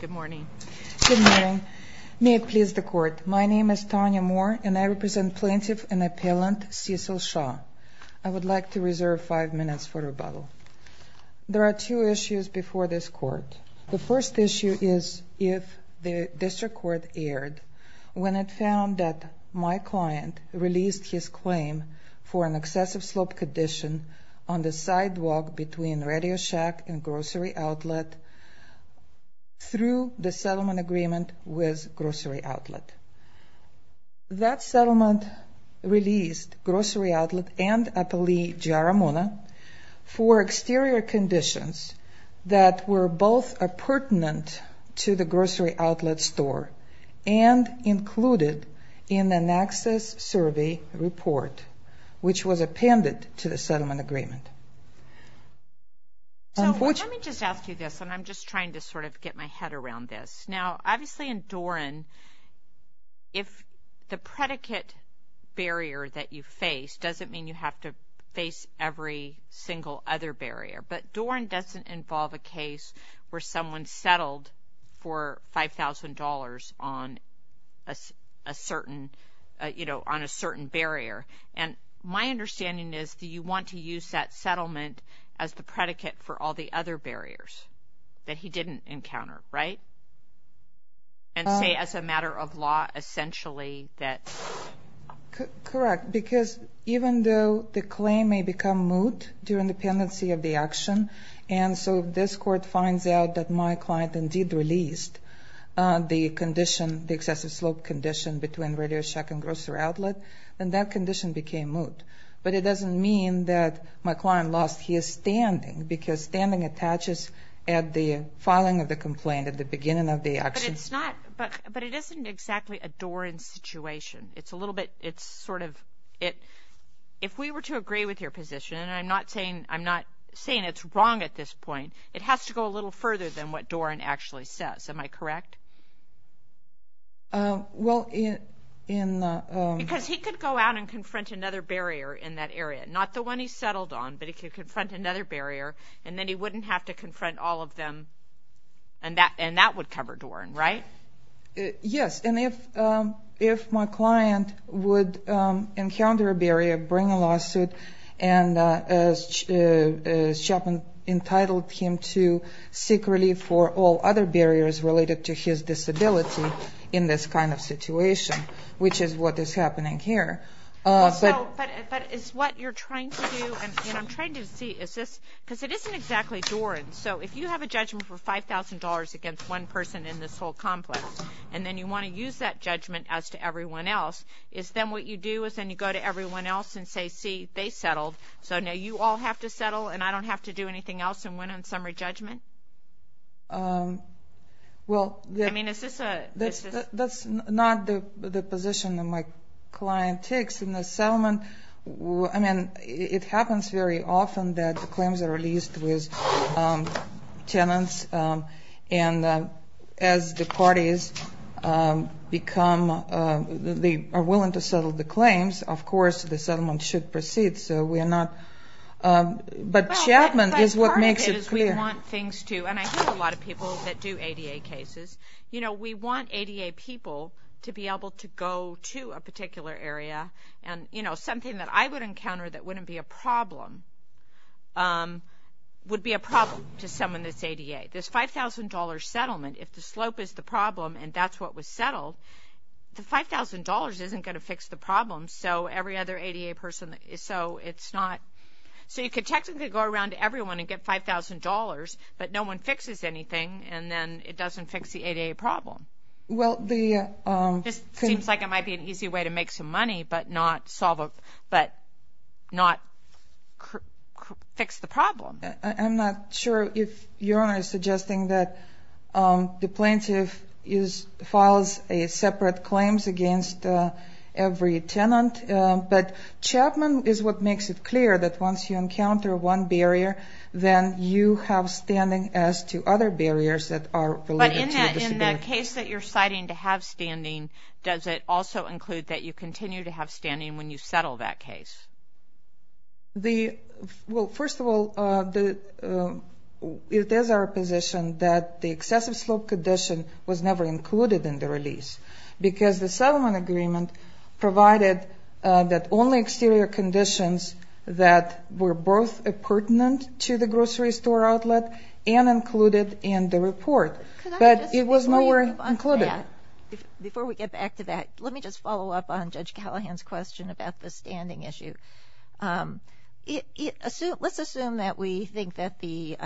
Good morning. May it please the court, my name is Tanya Moore and I represent plaintiff and appellant Cecil Shaw. I would like to reserve five minutes for rebuttal. There are two issues before this court. The first issue is if the district court erred when it found that my client released his claim for an excessive slope condition on the sidewalk between Radio Shack and Grocery Outlet through the settlement agreement with Grocery Outlet. That settlement released Grocery Outlet and Appellee Jar-Ramona for exterior conditions that were both appurtenant to the Grocery Outlet store and included in an access survey report which was appended to the settlement agreement. So let me just ask you this and I'm just trying to sort of get my head around this. Now obviously in Doran, if the predicate barrier that you face doesn't mean you have to face every single other barrier, but Doran doesn't involve a case where someone settled for $5,000 on a certain barrier. And my understanding is that you want to use that settlement as the predicate for all the other barriers that he didn't encounter, right? And say as a matter of law, essentially that's... And so if this court finds out that my client indeed released the condition, the excessive slope condition between Radio Shack and Grocery Outlet, then that condition became moot. But it doesn't mean that my client lost his standing because standing attaches at the filing of the complaint at the beginning of the action. But it's not... But it isn't exactly a Doran situation. It's a little bit... It's sort of... If we were to agree with your position, and I'm not saying it's wrong at this point, it has to go a little further than what Doran actually says. Am I correct? Well in... Because he could go out and confront another barrier in that area. Not the one he settled on, but he could confront another barrier and then he wouldn't have to confront all of them and that would cover Doran, right? Yes. And if my client would encounter a barrier, bring a lawsuit, and as Chapman entitled him to, seek relief for all other barriers related to his disability in this kind of situation, which is what is happening here. But is what you're trying to do, and I'm trying to see, is this... Because it isn't exactly Doran. So if you have a judgment for $5,000 against one person in this whole complex, and then you want to use that judgment as to everyone else, is then what you do is then you go to everyone else and say, see, they settled, so now you all have to settle and I don't have to do anything else and win on summary judgment? Well... I mean, is this a... That's not the position that my client takes in the settlement. I mean, it happens very often that the claims are released with tenants and as the parties become... They are willing to settle the claims, of course the settlement should proceed, so we are not... But Chapman is what makes it clear. Well, but part of it is we want things to... And I hear a lot of people that do ADA cases. You know, we want ADA people to be able to go to a particular area and, you know, something that I would encounter that wouldn't be a problem would be a problem to someone that's ADA. This $5,000 settlement, if the slope is the problem and that's what was settled, the $5,000 isn't going to fix the problem, so every other ADA person... So it's not... So you could technically go around to everyone and get $5,000, but no one fixes anything and then it doesn't fix the ADA problem. Well, the... This seems like it might be an easy way to make some money, but not solve a... But not fix the problem. I'm not sure if Your Honor is suggesting that the plaintiff is... Files a separate claims against every tenant, but Chapman is what makes it clear that once you encounter one barrier, then you have standing as to other barriers that are related to your disability. In the case that you're citing to have standing, does it also include that you continue to have standing when you settle that case? The... Well, first of all, it is our position that the excessive slope condition was never included in the release because the settlement agreement provided that only exterior conditions that were both pertinent to the grocery store outlet and included in the report, but it was never included. Before we get back to that, let me just follow up on Judge Callahan's question about the standing issue. Let's assume that we think that the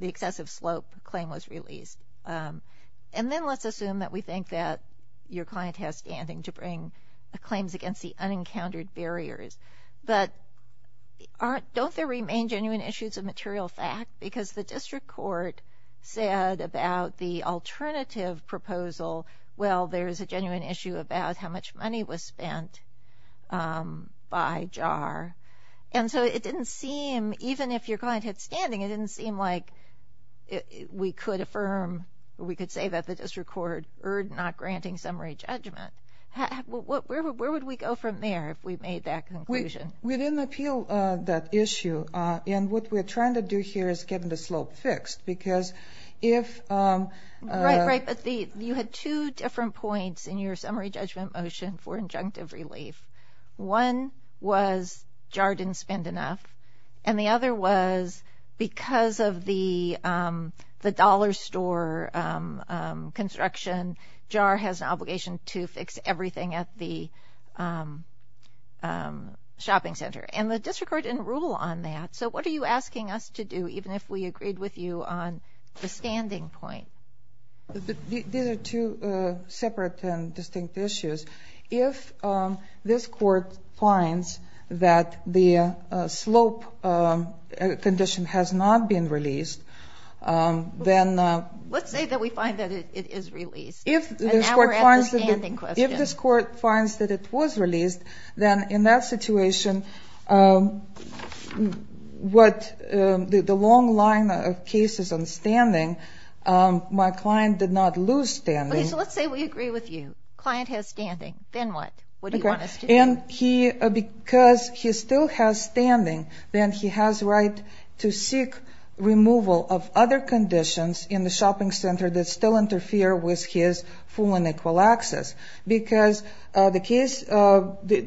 excessive slope claim was released, and then let's assume that we think that your client has standing to bring claims against the unencountered barriers, but aren't... Don't there remain genuine issues of material fact? Because the district court said about the alternative proposal, well, there's a genuine issue about how much money was spent by JAR, and so it didn't seem, even if your client had standing, it didn't seem like we could affirm or we could say that the district court erred not granting summary judgment. Where would we go from there if we made that conclusion? We didn't appeal that issue, and what we're trying to do here is getting the slope fixed because if... Right, right, but you had two different points in your summary judgment motion for injunctive relief. One was JAR didn't spend enough, and the other was because of the dollar store construction, JAR has an obligation to fix everything at the shopping mall, and so we have to fix everything at the shopping center, and the district court didn't rule on that. So what are you asking us to do, even if we agreed with you on the standing point? These are two separate and distinct issues. If this court finds that the slope condition has not been released, then... Let's say that we find that it is released, and now we're at the standing question. Then in that situation, the long line of cases on standing, my client did not lose standing. Okay, so let's say we agree with you. Client has standing. Then what? What do you want us to do? Because he still has standing, then he has right to seek removal of other conditions in the shopping center that still interfere with his full and equal access. Because the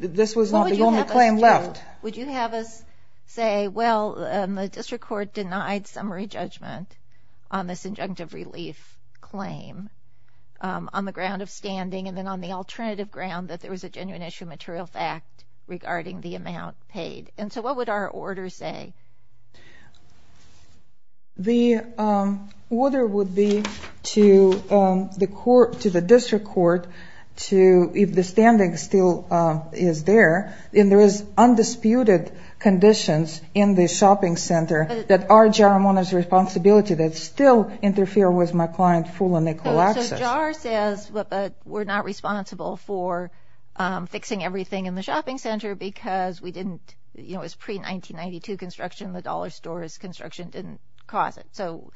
this was not the only claim left. Would you have us say, well, the district court denied summary judgment on this injunctive relief claim on the ground of standing, and then on the alternative ground that there was a genuine issue of material fact regarding the amount paid. And so what would our order say? The order would be to the court, to the district court, to, if the standing still is in effect, is there, and there is undisputed conditions in the shopping center that are JAR's responsibility that still interfere with my client's full and equal access. So JAR says, but we're not responsible for fixing everything in the shopping center because we didn't, you know, it was pre-1992 construction. The dollar store's construction didn't cause it. So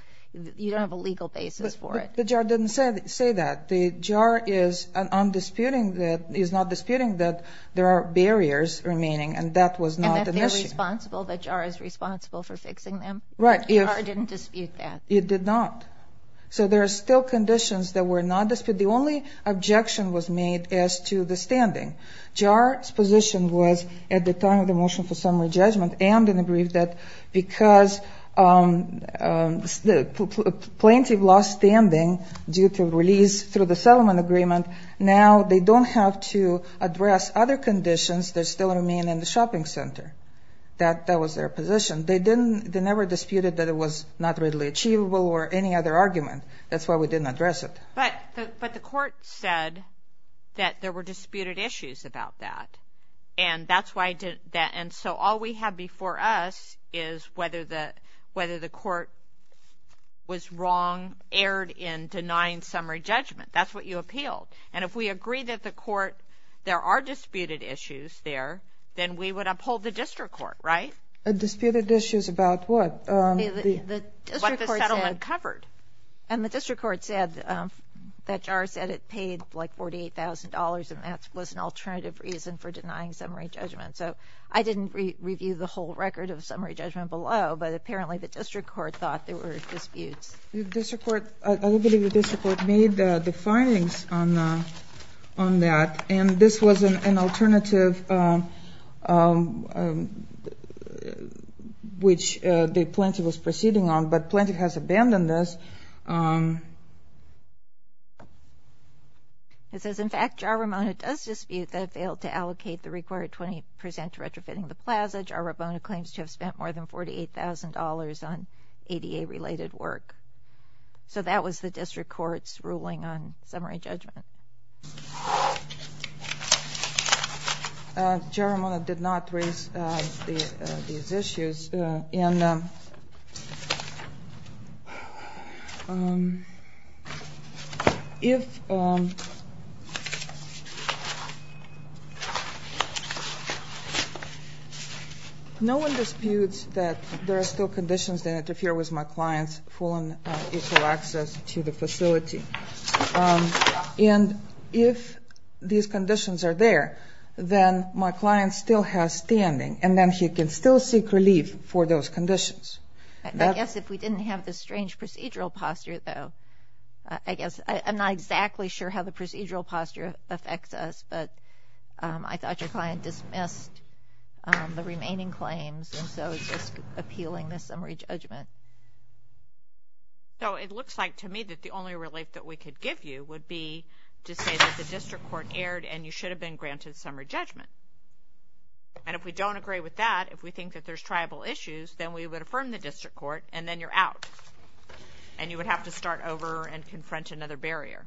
you don't have a legal basis for it. The JAR didn't say that. The JAR is undisputing that, is not disputing that there are barriers remaining, and that was not an issue. And that they're responsible, that JAR is responsible for fixing them? Right. JAR didn't dispute that. It did not. So there are still conditions that were not disputed. The only objection was made as to the standing. JAR's position was at the time of the motion for summary due to release through the settlement agreement. Now they don't have to address other conditions that still remain in the shopping center. That was their position. They didn't, they never disputed that it was not readily achievable or any other argument. That's why we didn't address it. But the court said that there were disputed issues about that. And that's why, and so all we have before us is whether the, whether the court was wrong, erred in denying summary judgment. That's what you appealed. And if we agree that the court, there are disputed issues there, then we would uphold the district court, right? Disputed issues about what? The district court said. What the settlement covered. And the district court said that JAR said it paid like $48,000 and that was an alternative reason for denying summary judgment. So I didn't review the whole record of summary judgment below, but apparently the district court thought there were disputes. The district court, I don't believe the district court made the findings on that. And this was an alternative which the plaintiff was proceeding on, but plaintiff has abandoned this. It says, in fact, JAR-Ramona does dispute that it failed to allocate the required 20% to retrofitting the plaza. JAR-Ramona claims to have spent more than $48,000 on ADA related work. So that was the district court's ruling on summary judgment. JAR-Ramona did not raise these issues. And if, no one disputes that there are still conditions that interfere with my client's full and equal access to the facility. And if these conditions are there, then my client still has standing and then he can still seek relief for those conditions. I guess if we didn't have this strange procedural posture, though, I guess, I'm not exactly sure how the procedural posture affects us, but I thought your client dismissed the remaining claims. And so it's just appealing the summary judgment. So it looks like to me that the only relief that we could give you would be to say that the district court erred and you should have been granted summary judgment. And if we don't agree with that, if we think that there's tribal issues, then we would affirm the district court and then you're out. And you would have to start over and confront another barrier.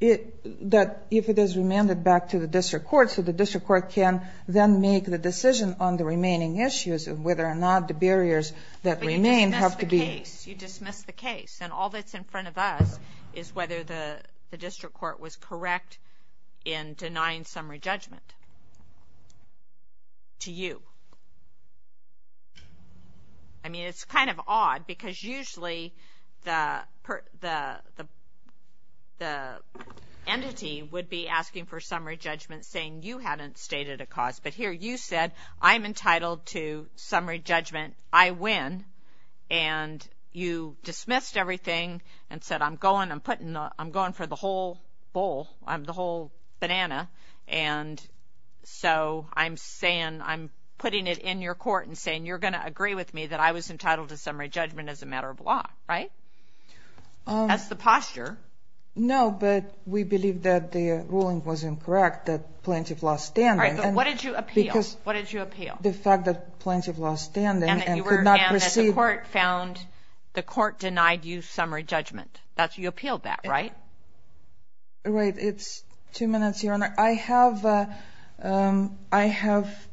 That if it is remanded back to the district court, so the district court can then make the decision on the remaining issues and whether or not the barriers that remain have But you dismiss the case. You dismiss the case. And all that's in front of us is whether the district court was correct in denying summary judgment to you. I mean, it's kind of odd because usually the entity would be asking for summary judgment saying you hadn't stated a cause. But here you said, I'm entitled to summary judgment. I win. And you dismissed everything and said, I'm going, I'm putting, I'm going for the whole bowl. I'm the whole banana. And so I'm saying, I'm putting it in your court and saying, you're going to agree with me that I was entitled to summary judgment as a matter of law, right? That's the posture. No, but we believe that the ruling was incorrect, that plaintiff lost standing. All right, but what did you appeal? What did you appeal? The fact that plaintiff lost standing and could not proceed. And that the court found, the court denied you summary judgment. That's, you appealed that, right? Right. It's two minutes, Your Honor. I have, I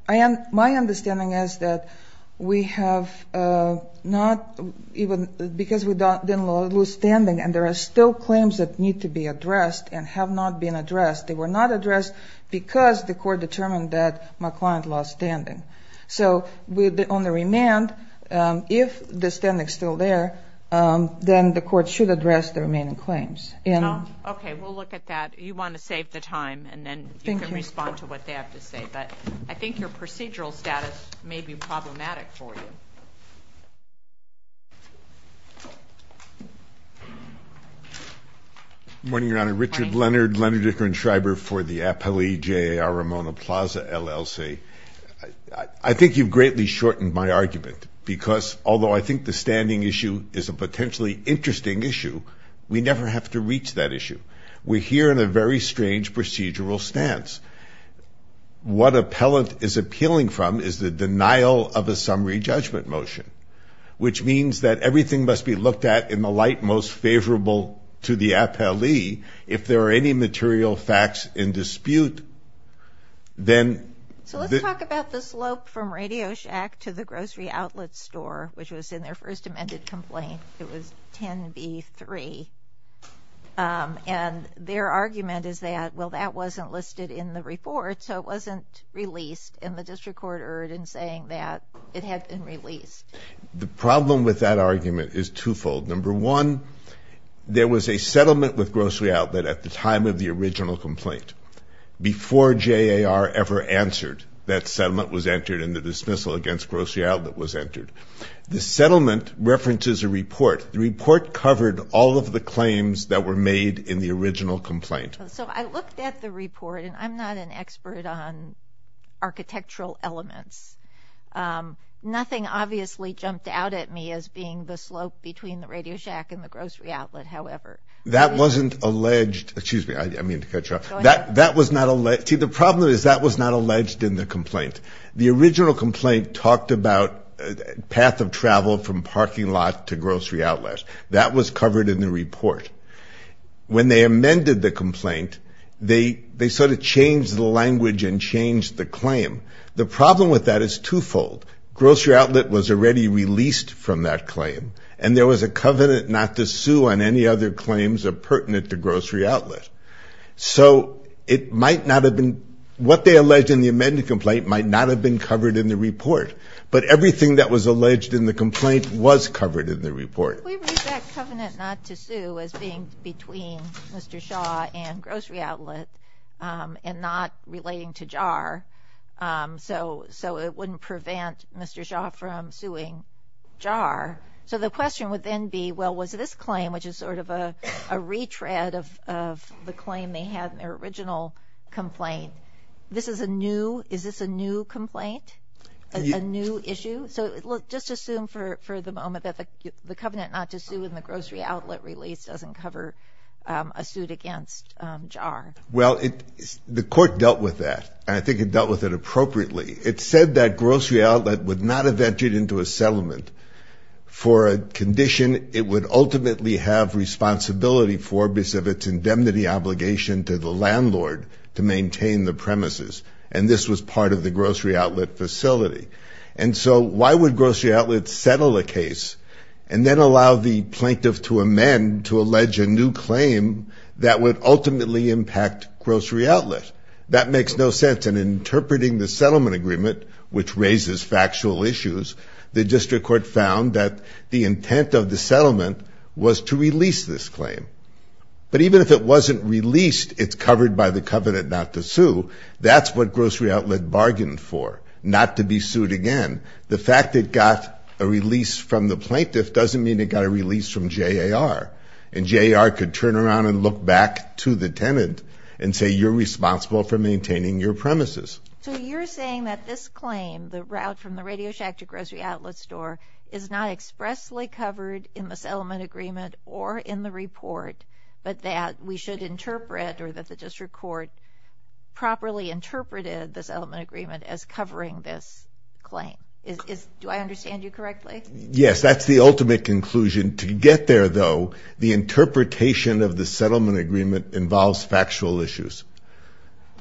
have, my understanding is that we have not even, because we didn't lose standing and there are still claims that need to be addressed and have not been addressed. They were not addressed because the court determined that my client lost standing. So on the remand, if the standing is still there, then the court should address the remaining claims. Okay, we'll look at that. You want to save the time and then you can respond to what they have to say. But I think your procedural status may be problematic for you. Good morning, Your Honor. Richard Leonard, Leonard Dicker and Schreiber for the appellee J.A.R. Ramona Plaza, LLC. I think you've greatly shortened my argument because although I think the standing issue is a potentially interesting issue, we never have to reach that issue. We're here in a very strange procedural stance. What appellant is appealing from is the denial of a summary judgment motion, which means that everything must be looked at in the light most favorable to the appellee. If there are any material facts in dispute, then... So let's talk about the slope from Radio Shack to the grocery outlet store, which was in their first amended complaint. It was 10B3. And their argument is that, well, that wasn't listed in the report, so it wasn't released. And the district court erred in saying that it had been released. The problem with that argument is twofold. Number one, there was a settlement with grocery outlet at the time of the original complaint. Before J.A.R. ever answered, that settlement was entered and the dismissal against grocery outlet was entered. The settlement references a report. The report covered all of the claims that were made in the original complaint. So I looked at the report, and I'm not an expert on architectural elements. Nothing obviously jumped out at me as being the slope between the Radio Shack and the grocery outlet, however. That wasn't alleged... Excuse me, I mean to cut you off. That was not... See, the problem is that was not alleged in the complaint. The original complaint talked about path of travel from parking lot to grocery outlet. That was covered in the report. When they amended the complaint, they sort of changed the language and changed the claim. The problem with that is twofold. Grocery outlet was already released from that claim, and there was a covenant not to sue on any other claims that are pertinent to grocery outlet. So it might not have been... What they alleged in the amended complaint might not have been covered in the report. But everything that was alleged in the complaint was covered in the report. We read that covenant not to sue as being between Mr. Shaw and grocery outlet and not relating to JAR. So it wouldn't prevent Mr. Shaw from suing JAR. So the question would then be, well, was this claim, which is sort of a retread of the claim they had in their original complaint, this is a new... Is this a new complaint? A new issue? So just assume for the moment that the covenant not to sue in the grocery outlet release doesn't cover a suit against JAR. Well, the court dealt with that, and I think it dealt with it appropriately. It said that grocery outlet would not have entered into a settlement for a condition it would ultimately have responsibility for because of its indemnity obligation to the landlord to maintain the premises. And this was part of the grocery outlet facility. And so why would grocery outlets settle a case and then allow the plaintiff to amend to allege a new claim that would ultimately impact grocery outlet? That makes no sense. And interpreting the settlement agreement, which raises factual issues, the district court found that the intent of the settlement was to release this claim. But even if it wasn't released, it's covered by the covenant not to sue. That's what grocery outlet bargained for, not to be sued again. The fact it got a release from the plaintiff doesn't mean it got a release from JAR. And JAR could turn around and look back to the tenant and say, you're responsible for maintaining your premises. So you're saying that this claim, the route from the Radio Shack to grocery outlet store, is not expressly covered in the settlement agreement or in the report, but that we should interpret or that the district court properly interpreted the settlement agreement as covering this claim. Do I understand you correctly? Yes, that's the ultimate conclusion. To get there, though, the interpretation of the settlement agreement involves factual issues.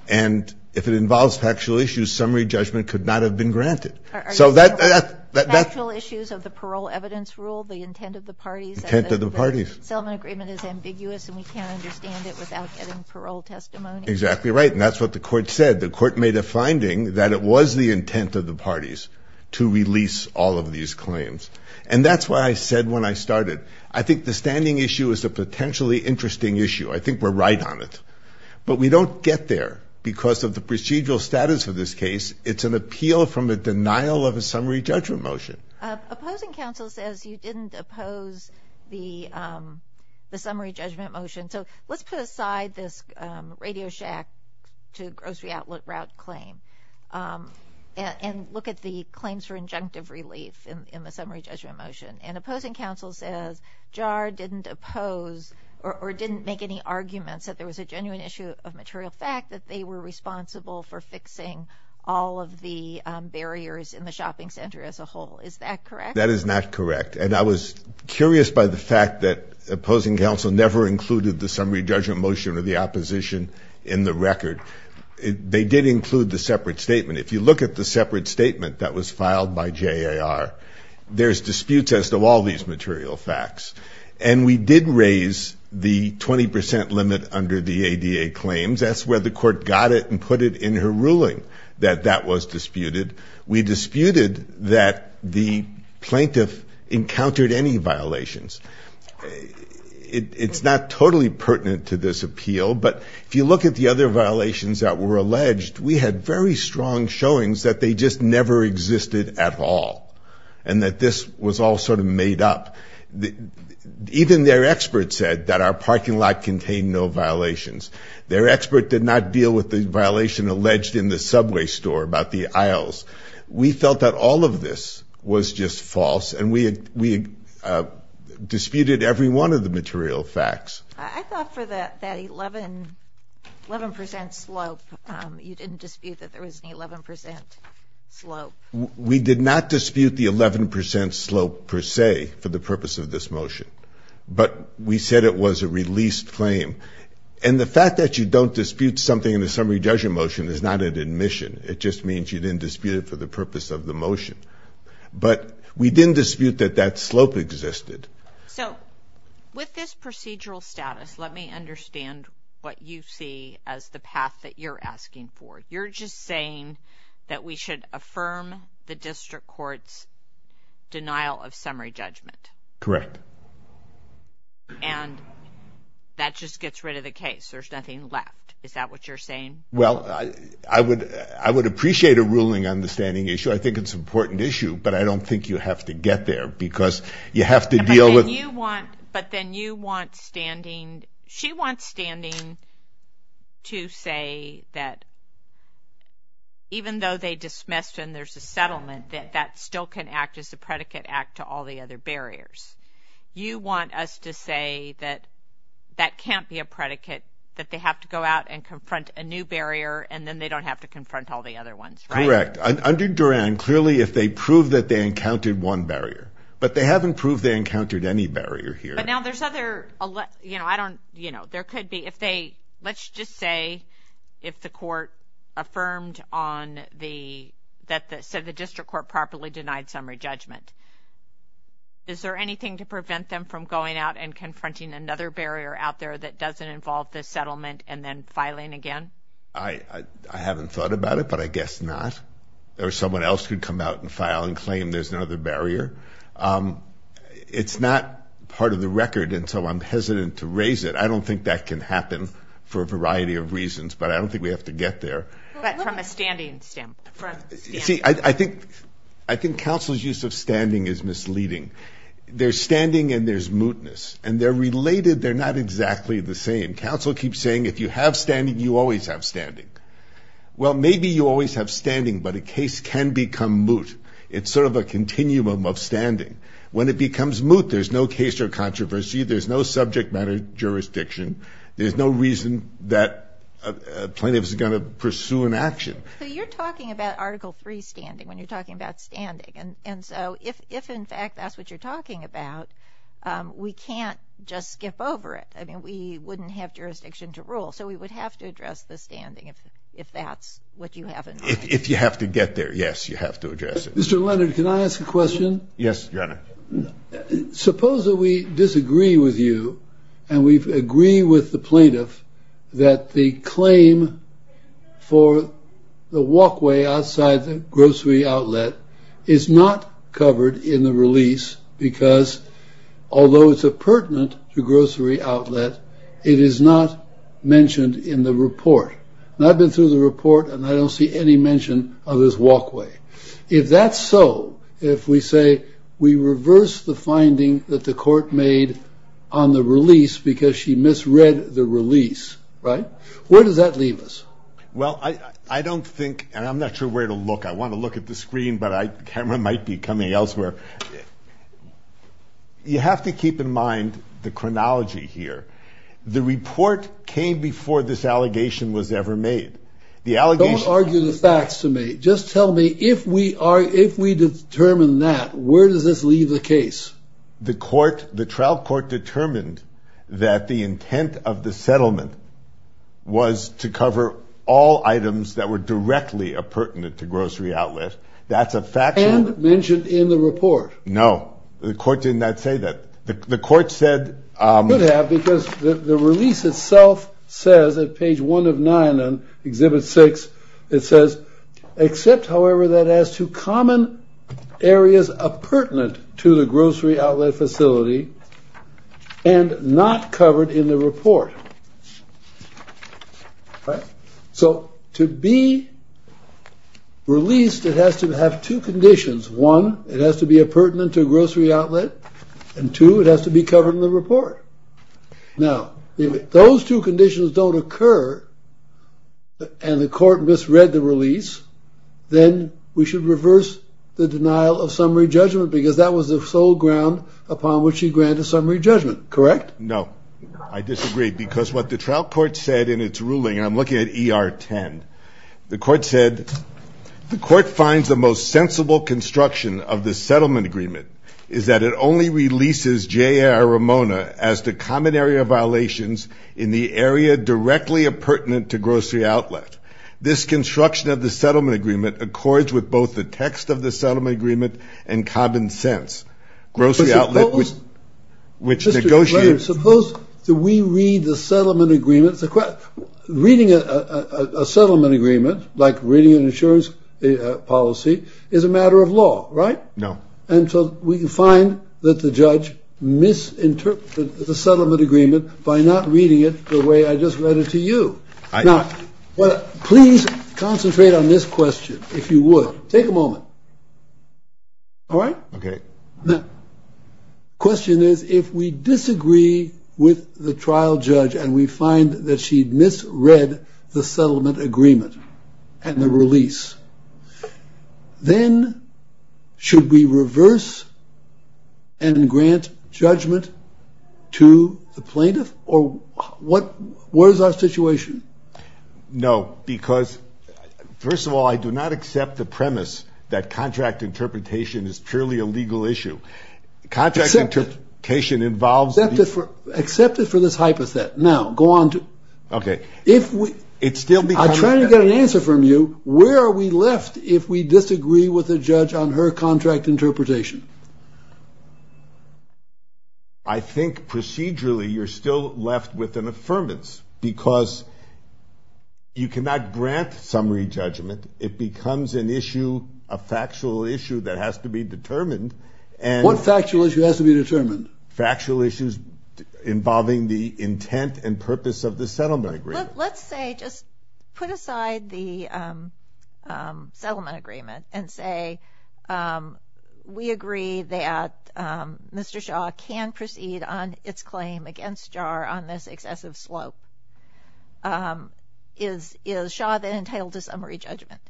And if it involves factual issues, summary judgment could not have been granted. Factual issues of the parole evidence rule, the intent of the parties. The intent of the parties. The settlement agreement is ambiguous and we can't the court said. The court made a finding that it was the intent of the parties to release all of these claims. And that's what I said when I started. I think the standing issue is a potentially interesting issue. I think we're right on it. But we don't get there because of the procedural status of this case. It's an appeal from a denial of a summary judgment motion. Opposing counsel says you didn't oppose the summary judgment motion. So let's put aside this Radio Shack to grocery outlet route claim and look at the claims for injunctive relief in the summary judgment motion. And opposing counsel says JAR didn't oppose or didn't make any arguments that there was a genuine issue of material fact that they were responsible for fixing all of the barriers in the shopping center as a whole. Is that correct? That is not correct. And I was curious by the fact that opposing counsel never included the summary judgment motion or the opposition in the record. They did include the separate statement. If you look at the separate statement that was filed by JAR, there's disputes as to all these material facts. And we did raise the 20% limit under the ADA claims. That's where the court got it and put it in her ruling that that was disputed. We disputed that the plaintiff encountered any violations. It's not totally pertinent to this appeal, but if you look at the other violations that were alleged, we had very strong showings that they just never existed at all and that this was all sort of made up. Even their expert said that our parking lot contained no violations. Their expert did not deal with the violation alleged in the subway store about the aisles. We felt that all of this was just false and we disputed every one of the material facts. I thought for that 11% slope, you didn't dispute that there was an 11% slope. We did not dispute the 11% slope per se for the purpose of this motion, but we said it was a released claim. And the fact that you don't dispute something in the summary judgment motion is not an admission. It just means you didn't dispute it for the purpose of the motion. But we didn't dispute that that slope existed. So with this procedural status, let me understand what you see as the path that you're asking for. You're just saying that we should affirm the district court's denial of summary judgment. Correct. And that just gets rid of the case. There's nothing left. Is that what you're saying? Well, I would appreciate a ruling on the standing issue. I think it's an important issue, but I don't think you have to get there because you have to deal with... But then you want standing, she wants standing to say that even though they dismissed and there's a settlement, that that still can act as a predicate act to all the other barriers. You want us to say that that can't be a predicate, that they have to go out and confront a new barrier and then they don't have to confront all the other ones, right? Correct. Under Duran, clearly if they prove that they encountered one barrier, but they haven't proved they encountered any barrier here. But now there's other, you know, I don't, you know, there could be, if they, let's just say if the court affirmed on the, that the district court properly denied summary judgment. Is there anything to prevent them from going out and confronting another barrier out there that doesn't involve the settlement and then filing again? I haven't thought about it, but I guess not. There was someone else who'd come out and file and claim there's another barrier. It's not part of the record, and so I'm hesitant to raise it. I don't think that can happen for a variety of reasons, but I don't think we have to get there. But from a standing standpoint. See, I think, I think counsel's use of standing is misleading. There's standing and there's mootness, and they're related. They're not exactly the same. Counsel keeps saying if you have standing, you always have standing. Well, maybe you always have standing, but a case can become moot. It's sort of a continuum of standing. When it becomes moot, there's no case or controversy. There's no subject matter jurisdiction. There's no reason that a plaintiff is going to pursue an action. So you're talking about Article III standing when you're talking about standing, and so if in fact that's what you're talking about, we can't just skip over it. I mean, we wouldn't have jurisdiction to rule, so we would have to address the standing if that's what you have in mind. If you have to get there, yes, you have to address it. Mr. Leonard, can I ask a question? Yes, Your Honor. Suppose that we disagree with you and we agree with the plaintiff that the claim for the walkway outside the grocery outlet is not covered in the release because although it's a pertinent grocery outlet, it is not mentioned in the report. I've been through the report and I don't see any mention of this walkway. If that's so, if we say we reverse the finding that the court made on the release because she misread the release, right, where does that leave us? Well, I don't think, and I'm not sure where to look. I want to look at the screen, but the camera might be coming elsewhere. You have to keep in mind the chronology here. The report came before this allegation was ever made. Don't argue the facts to me. Just tell me if we determine that, where does this leave the case? The trial court determined that the intent of the settlement was to cover all items that were directly appurtenant to grocery outlets. And mentioned in the report. No, the court did not say that. The court said... The release itself says at page one of nine on exhibit six, it says, except however that as to common areas appurtenant to the grocery outlet facility and not covered in the report. So to be released, it has to have two conditions. One, it has to be appurtenant to a grocery outlet and two, it has to be covered in the report. Now, if those two conditions don't occur, and the court misread the release, then we should reverse the denial of summary judgment, because that was the sole ground upon which he granted summary judgment, correct? No, I disagree, because what the trial court said in its ruling, and I'm looking at ER 10, the court said, the court finds the most sensible construction of the settlement agreement is that it only releases J.R. Ramona as to common area violations in the area directly appurtenant to grocery outlet. This construction of the settlement agreement accords with both the text of the settlement agreement and common sense. Grocery outlet was... Which negotiates... Suppose that we read the settlement agreements... Reading a settlement agreement, like reading an insurance policy, is a matter of law, right? No. And so we can find that the judge misinterpreted the settlement agreement by not reading it the way I just read it to you. Now, please concentrate on this question, if you would. Take a moment. Alright? Okay. Now, the question is, if we disagree with the trial judge and we find that she misread the settlement agreement and the release, then should we reverse and grant judgment to the plaintiff? Or what... What is our situation? No, because first of all, I do not accept the premise that contract interpretation is purely a legal issue. Contract interpretation involves... Accept it for this hypothet. Now, go on to... Okay. If we... It still becomes... I'm trying to get an answer from you. Where are we left if we disagree with the judge on her contract interpretation? I think procedurally, you're still left with an affirmance, because you cannot grant summary judgment. It becomes an issue, a factual issue that has to be determined and... What factual issue has to be determined? Factual issues involving the intent and purpose of the settlement agreement. Let's say, just put aside the settlement agreement and say, we agree that Mr. Shaw can proceed on its claim against JAR on this excessive slope. Is Shaw then entitled to summary judgment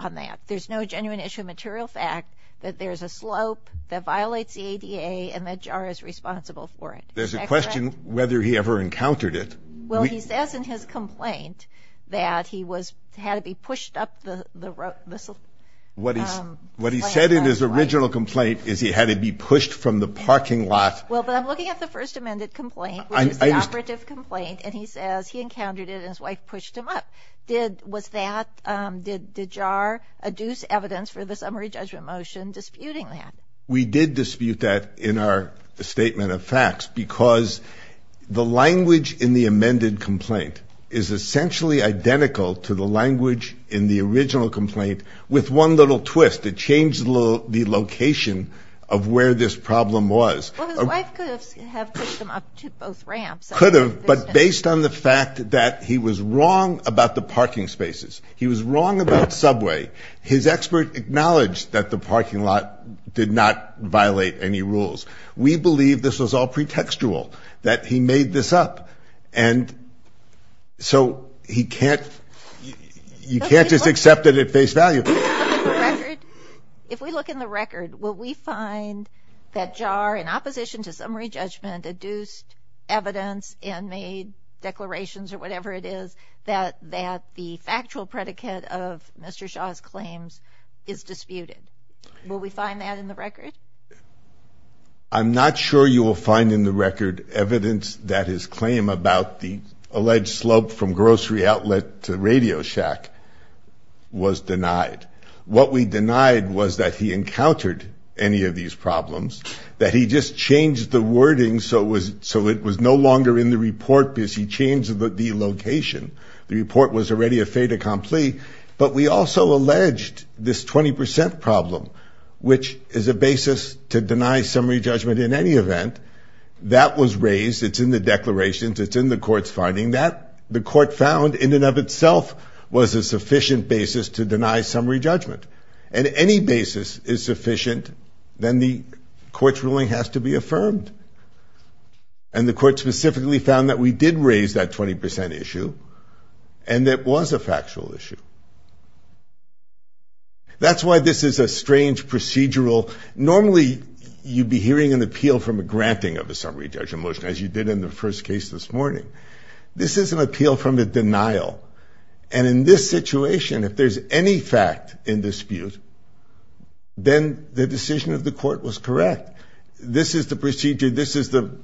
on that? There's no genuine issue of material fact that there's a slope that violates the ADA and that JAR is responsible for it. There's a question whether he ever encountered it. Well, he says in his complaint that he had to be pushed up the slope. What he said in his original complaint is he had to be pushed from the parking lot. Well, but I'm looking at the First Amendment complaint, which is the operative complaint, and he says he encountered it and his wife pushed him up. Was that, did JAR adduce evidence for the summary judgment motion disputing that? We did dispute that in our statement of facts, because the language in the amended complaint is essentially identical to the language in the original complaint, with one little twist. It changed the location of where this problem was. Well, his wife could have pushed him up to both ramps. Could have. But based on the fact that he was wrong about the parking spaces, he was wrong about subway, his expert acknowledged that the parking lot did not violate any rules. We believe this was all pretextual, that he made this up, and so he can't, you can't just accept it at face value. If we look in the record, will we find that JAR, in opposition to summary judgment, adduced evidence and made declarations, or whatever it is, that the factual predicate of Mr. Shaw's claims is disputed? Will we find that in the record? I'm not sure you will find in the record evidence that his claim about the alleged slope from grocery outlet to radio shack was denied. What we denied was that he encountered any of these problems, that he just changed the location. It was no longer in the report because he changed the location. The report was already a fait accompli. But we also alleged this 20% problem, which is a basis to deny summary judgment in any event. That was raised. It's in the declarations. It's in the court's finding that the court found in and of itself was a sufficient basis to deny summary judgment. And any basis is sufficient, then the court's ruling has to be affirmed. And the court specifically found that we did raise that 20% issue, and that it was a factual issue. That's why this is a strange procedural—normally, you'd be hearing an appeal from a granting of a summary judgment motion, as you did in the first case this morning. This is an appeal from a denial. And in this situation, if there's any fact in dispute, then the decision of the court was correct. This is the procedure. This is the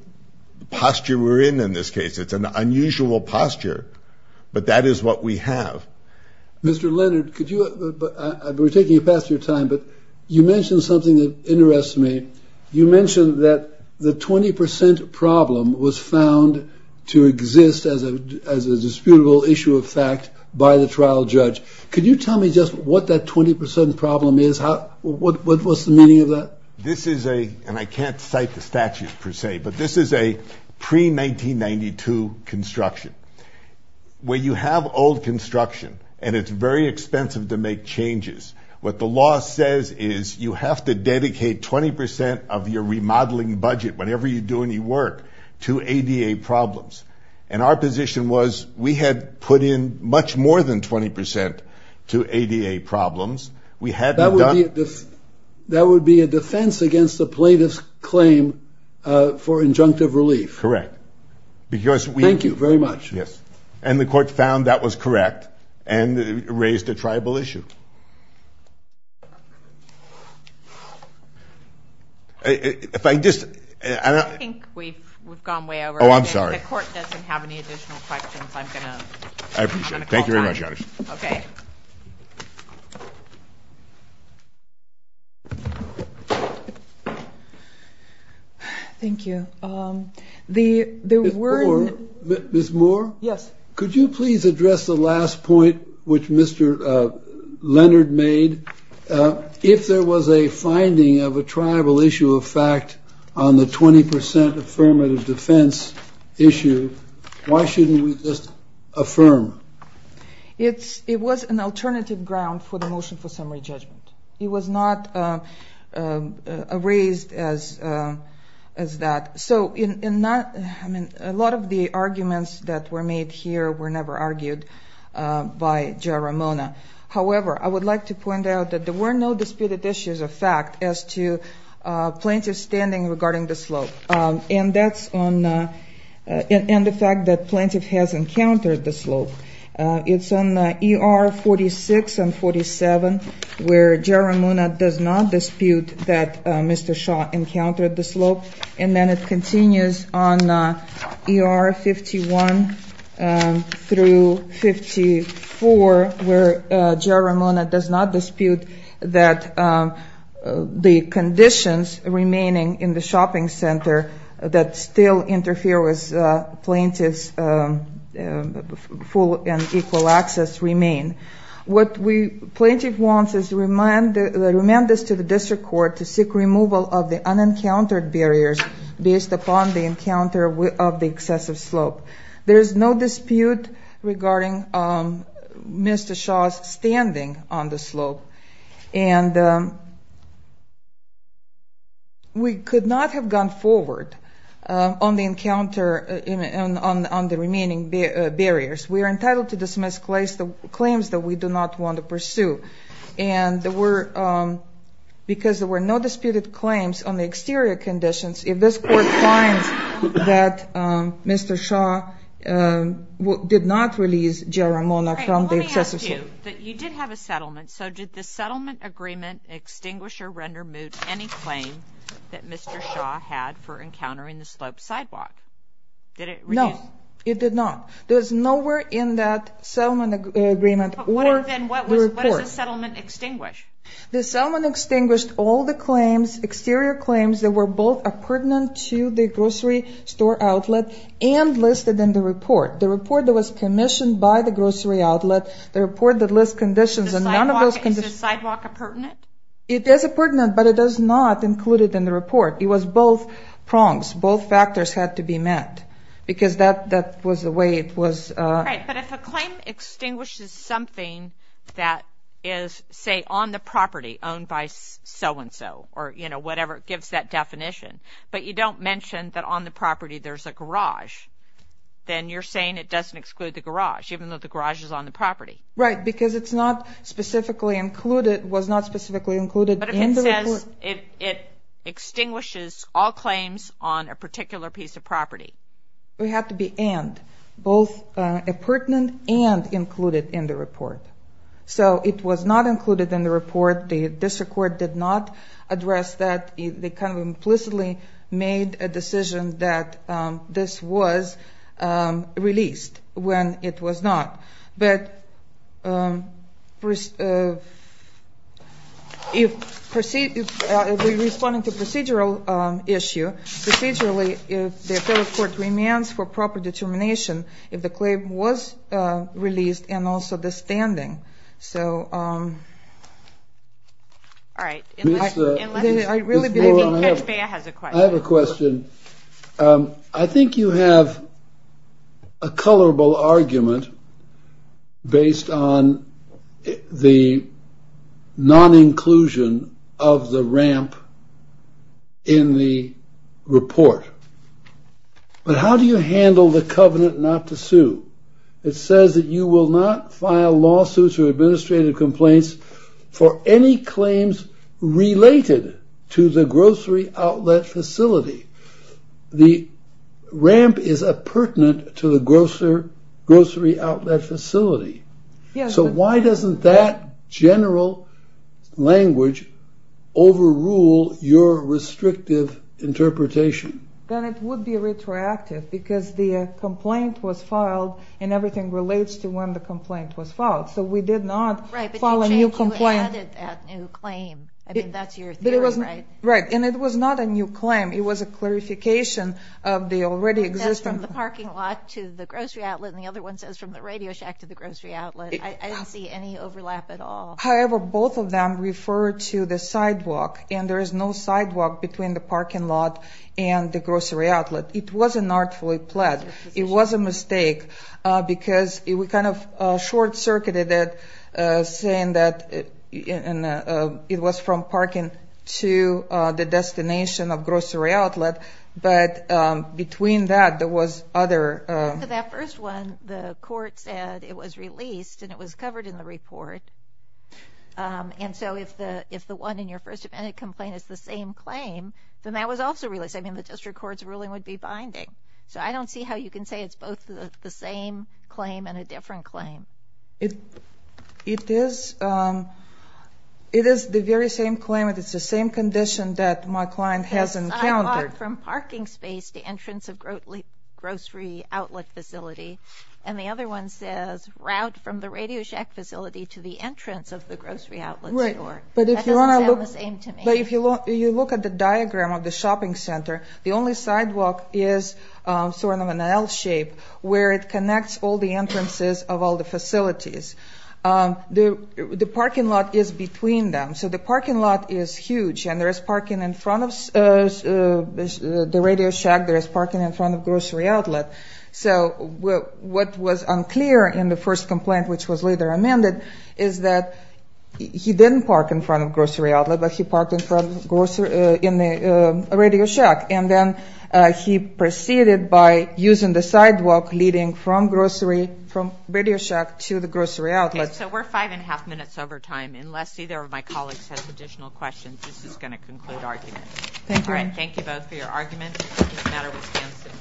posture we're in in this case. It's an unusual posture. But that is what we have. Mr. Leonard, could you—we're taking up past your time, but you mentioned something that interests me. You mentioned that the 20% problem was found to exist as a disputable issue of fact by the trial judge. Could you tell me just what that 20% problem is? What's the meaning of that? This is a—and I can't cite the statute, per se—but this is a pre-1992 construction. Where you have old construction, and it's very expensive to make changes, what the law says is you have to dedicate 20% of your remodeling budget, whatever you do in your work, to ADA problems. And our position was we had put in much more than 20% to ADA problems. We hadn't done— That would be a defense against the plaintiff's claim for injunctive relief. Correct. Because we— Thank you very much. Yes. And the court found that was correct and raised a tribal issue. If I just— I think we've gone way over. Oh, I'm sorry. The court doesn't have any additional questions. I'm going to call time. I appreciate it. Thank you very much, Your Honor. Thank you. The— Ms. Moore? Yes. Could you please address the last point which Mr. Leonard made? If there was a finding of a tribal issue of fact on the 20% affirmative defense issue, why shouldn't we just affirm? It was an alternative ground for the motion for summary judgment. It was not raised as that. So in—I mean, a lot of the arguments that were made here were never argued by Jairamona. However, I would like to point out that there were no disputed issues of fact as to plaintiff standing regarding the slope, and that's on—and the fact that plaintiff has encountered the slope. It's on ER 46 and 47 where Jairamona does not dispute that Mr. Shaw encountered the slope, and then it continues on ER 51 through 54 where Jairamona does not dispute that the conditions remaining in the shopping center that still interfere with plaintiff's full and equal access remain. What we—plaintiff wants is to remand this to the district court to seek removal of the unencountered barriers based upon the encounter of the excessive slope. There's no dispute regarding Mr. Shaw's standing on the slope, and we could not have gone forward on the encounter—on the remaining barriers. We are entitled to dismiss claims that we do not want to pursue. And there were—because there were no disputed claims on the exterior conditions, if this court finds that Mr. Shaw did not release Jairamona from the excessive slope— All right, well, let me ask you that you did have a settlement, so did the settlement agreement extinguish or render moot any claim that Mr. Shaw had for encountering the slope sidewalk? Did it reduce— No, it did not. There's nowhere in that settlement agreement or the report— Then what does the settlement extinguish? The settlement extinguished all the claims—exterior claims that were both appurtenant to the grocery store outlet and listed in the report. The report that was commissioned by the grocery outlet, the report that lists conditions and none of those— Is the sidewalk appurtenant? It is appurtenant, but it is not included in the report. It was both prongs. Both factors had to be met because that was the way it was— Right, but if a claim extinguishes something that is, say, on the property owned by so-and-so or whatever, it gives that definition, but you don't mention that on the property there's a garage, then you're saying it doesn't exclude the garage, even though the garage is on the property. Right, because it's not specifically included—was not specifically included in the report— Because it extinguishes all claims on a particular piece of property. It had to be and, both appurtenant and included in the report. So it was not included in the report. The district court did not address that. They kind of implicitly made a decision that this was released when it was not, but if we're responding to a procedural issue, procedurally, the federal court demands for proper determination if the claim was released and also the standing. So— All right. Unless— I really believe— I have a question. I think you have a colorable argument based on the non-inclusion of the ramp in the report. But how do you handle the covenant not to sue? It says that you will not file lawsuits or administrative complaints for any claims related to the grocery outlet facility. The ramp is appurtenant to the grocery outlet facility. So why doesn't that general language overrule your restrictive interpretation? Then it would be retroactive, because the complaint was filed and everything relates to when the complaint was filed. So we did not file a new complaint— Right. And it was not a new claim. It was a clarification of the already existing— It says from the parking lot to the grocery outlet, and the other one says from the radio shack to the grocery outlet. I didn't see any overlap at all. However, both of them refer to the sidewalk, and there is no sidewalk between the parking lot and the grocery outlet. It was an artfully pledged. It was a mistake, because we kind of short-circuited it, saying that it was from parking to the destination of grocery outlet, but between that, there was other— That first one, the court said it was released, and it was covered in the report. And so if the one in your first amendment complaint is the same claim, then that was also released. I mean, the district court's ruling would be binding. So I don't see how you can say it's both the same claim and a different claim. It is the very same claim, and it's the same condition that my client has encountered. It says sidewalk from parking space to entrance of grocery outlet facility, and the other one says route from the radio shack facility to the entrance of the grocery outlet store. But if you want to look— That doesn't sound the same to me. But if you look at the diagram of the shopping center, the only sidewalk is sort of an L-shape, where it connects all the entrances of all the facilities. The parking lot is between them. So the parking lot is huge, and there is parking in front of the radio shack, there is parking in front of grocery outlet. So what was unclear in the first complaint, which was later amended, is that he didn't park in front of grocery outlet, but he parked in front of grocery—in the radio shack. And then he proceeded by using the sidewalk leading from grocery—from radio shack to the grocery outlet. Okay, so we're five and a half minutes over time. Unless either of my colleagues has additional questions, this is going to conclude argument. Thank you. All right, thank you both for your arguments. It doesn't matter what stands submitted.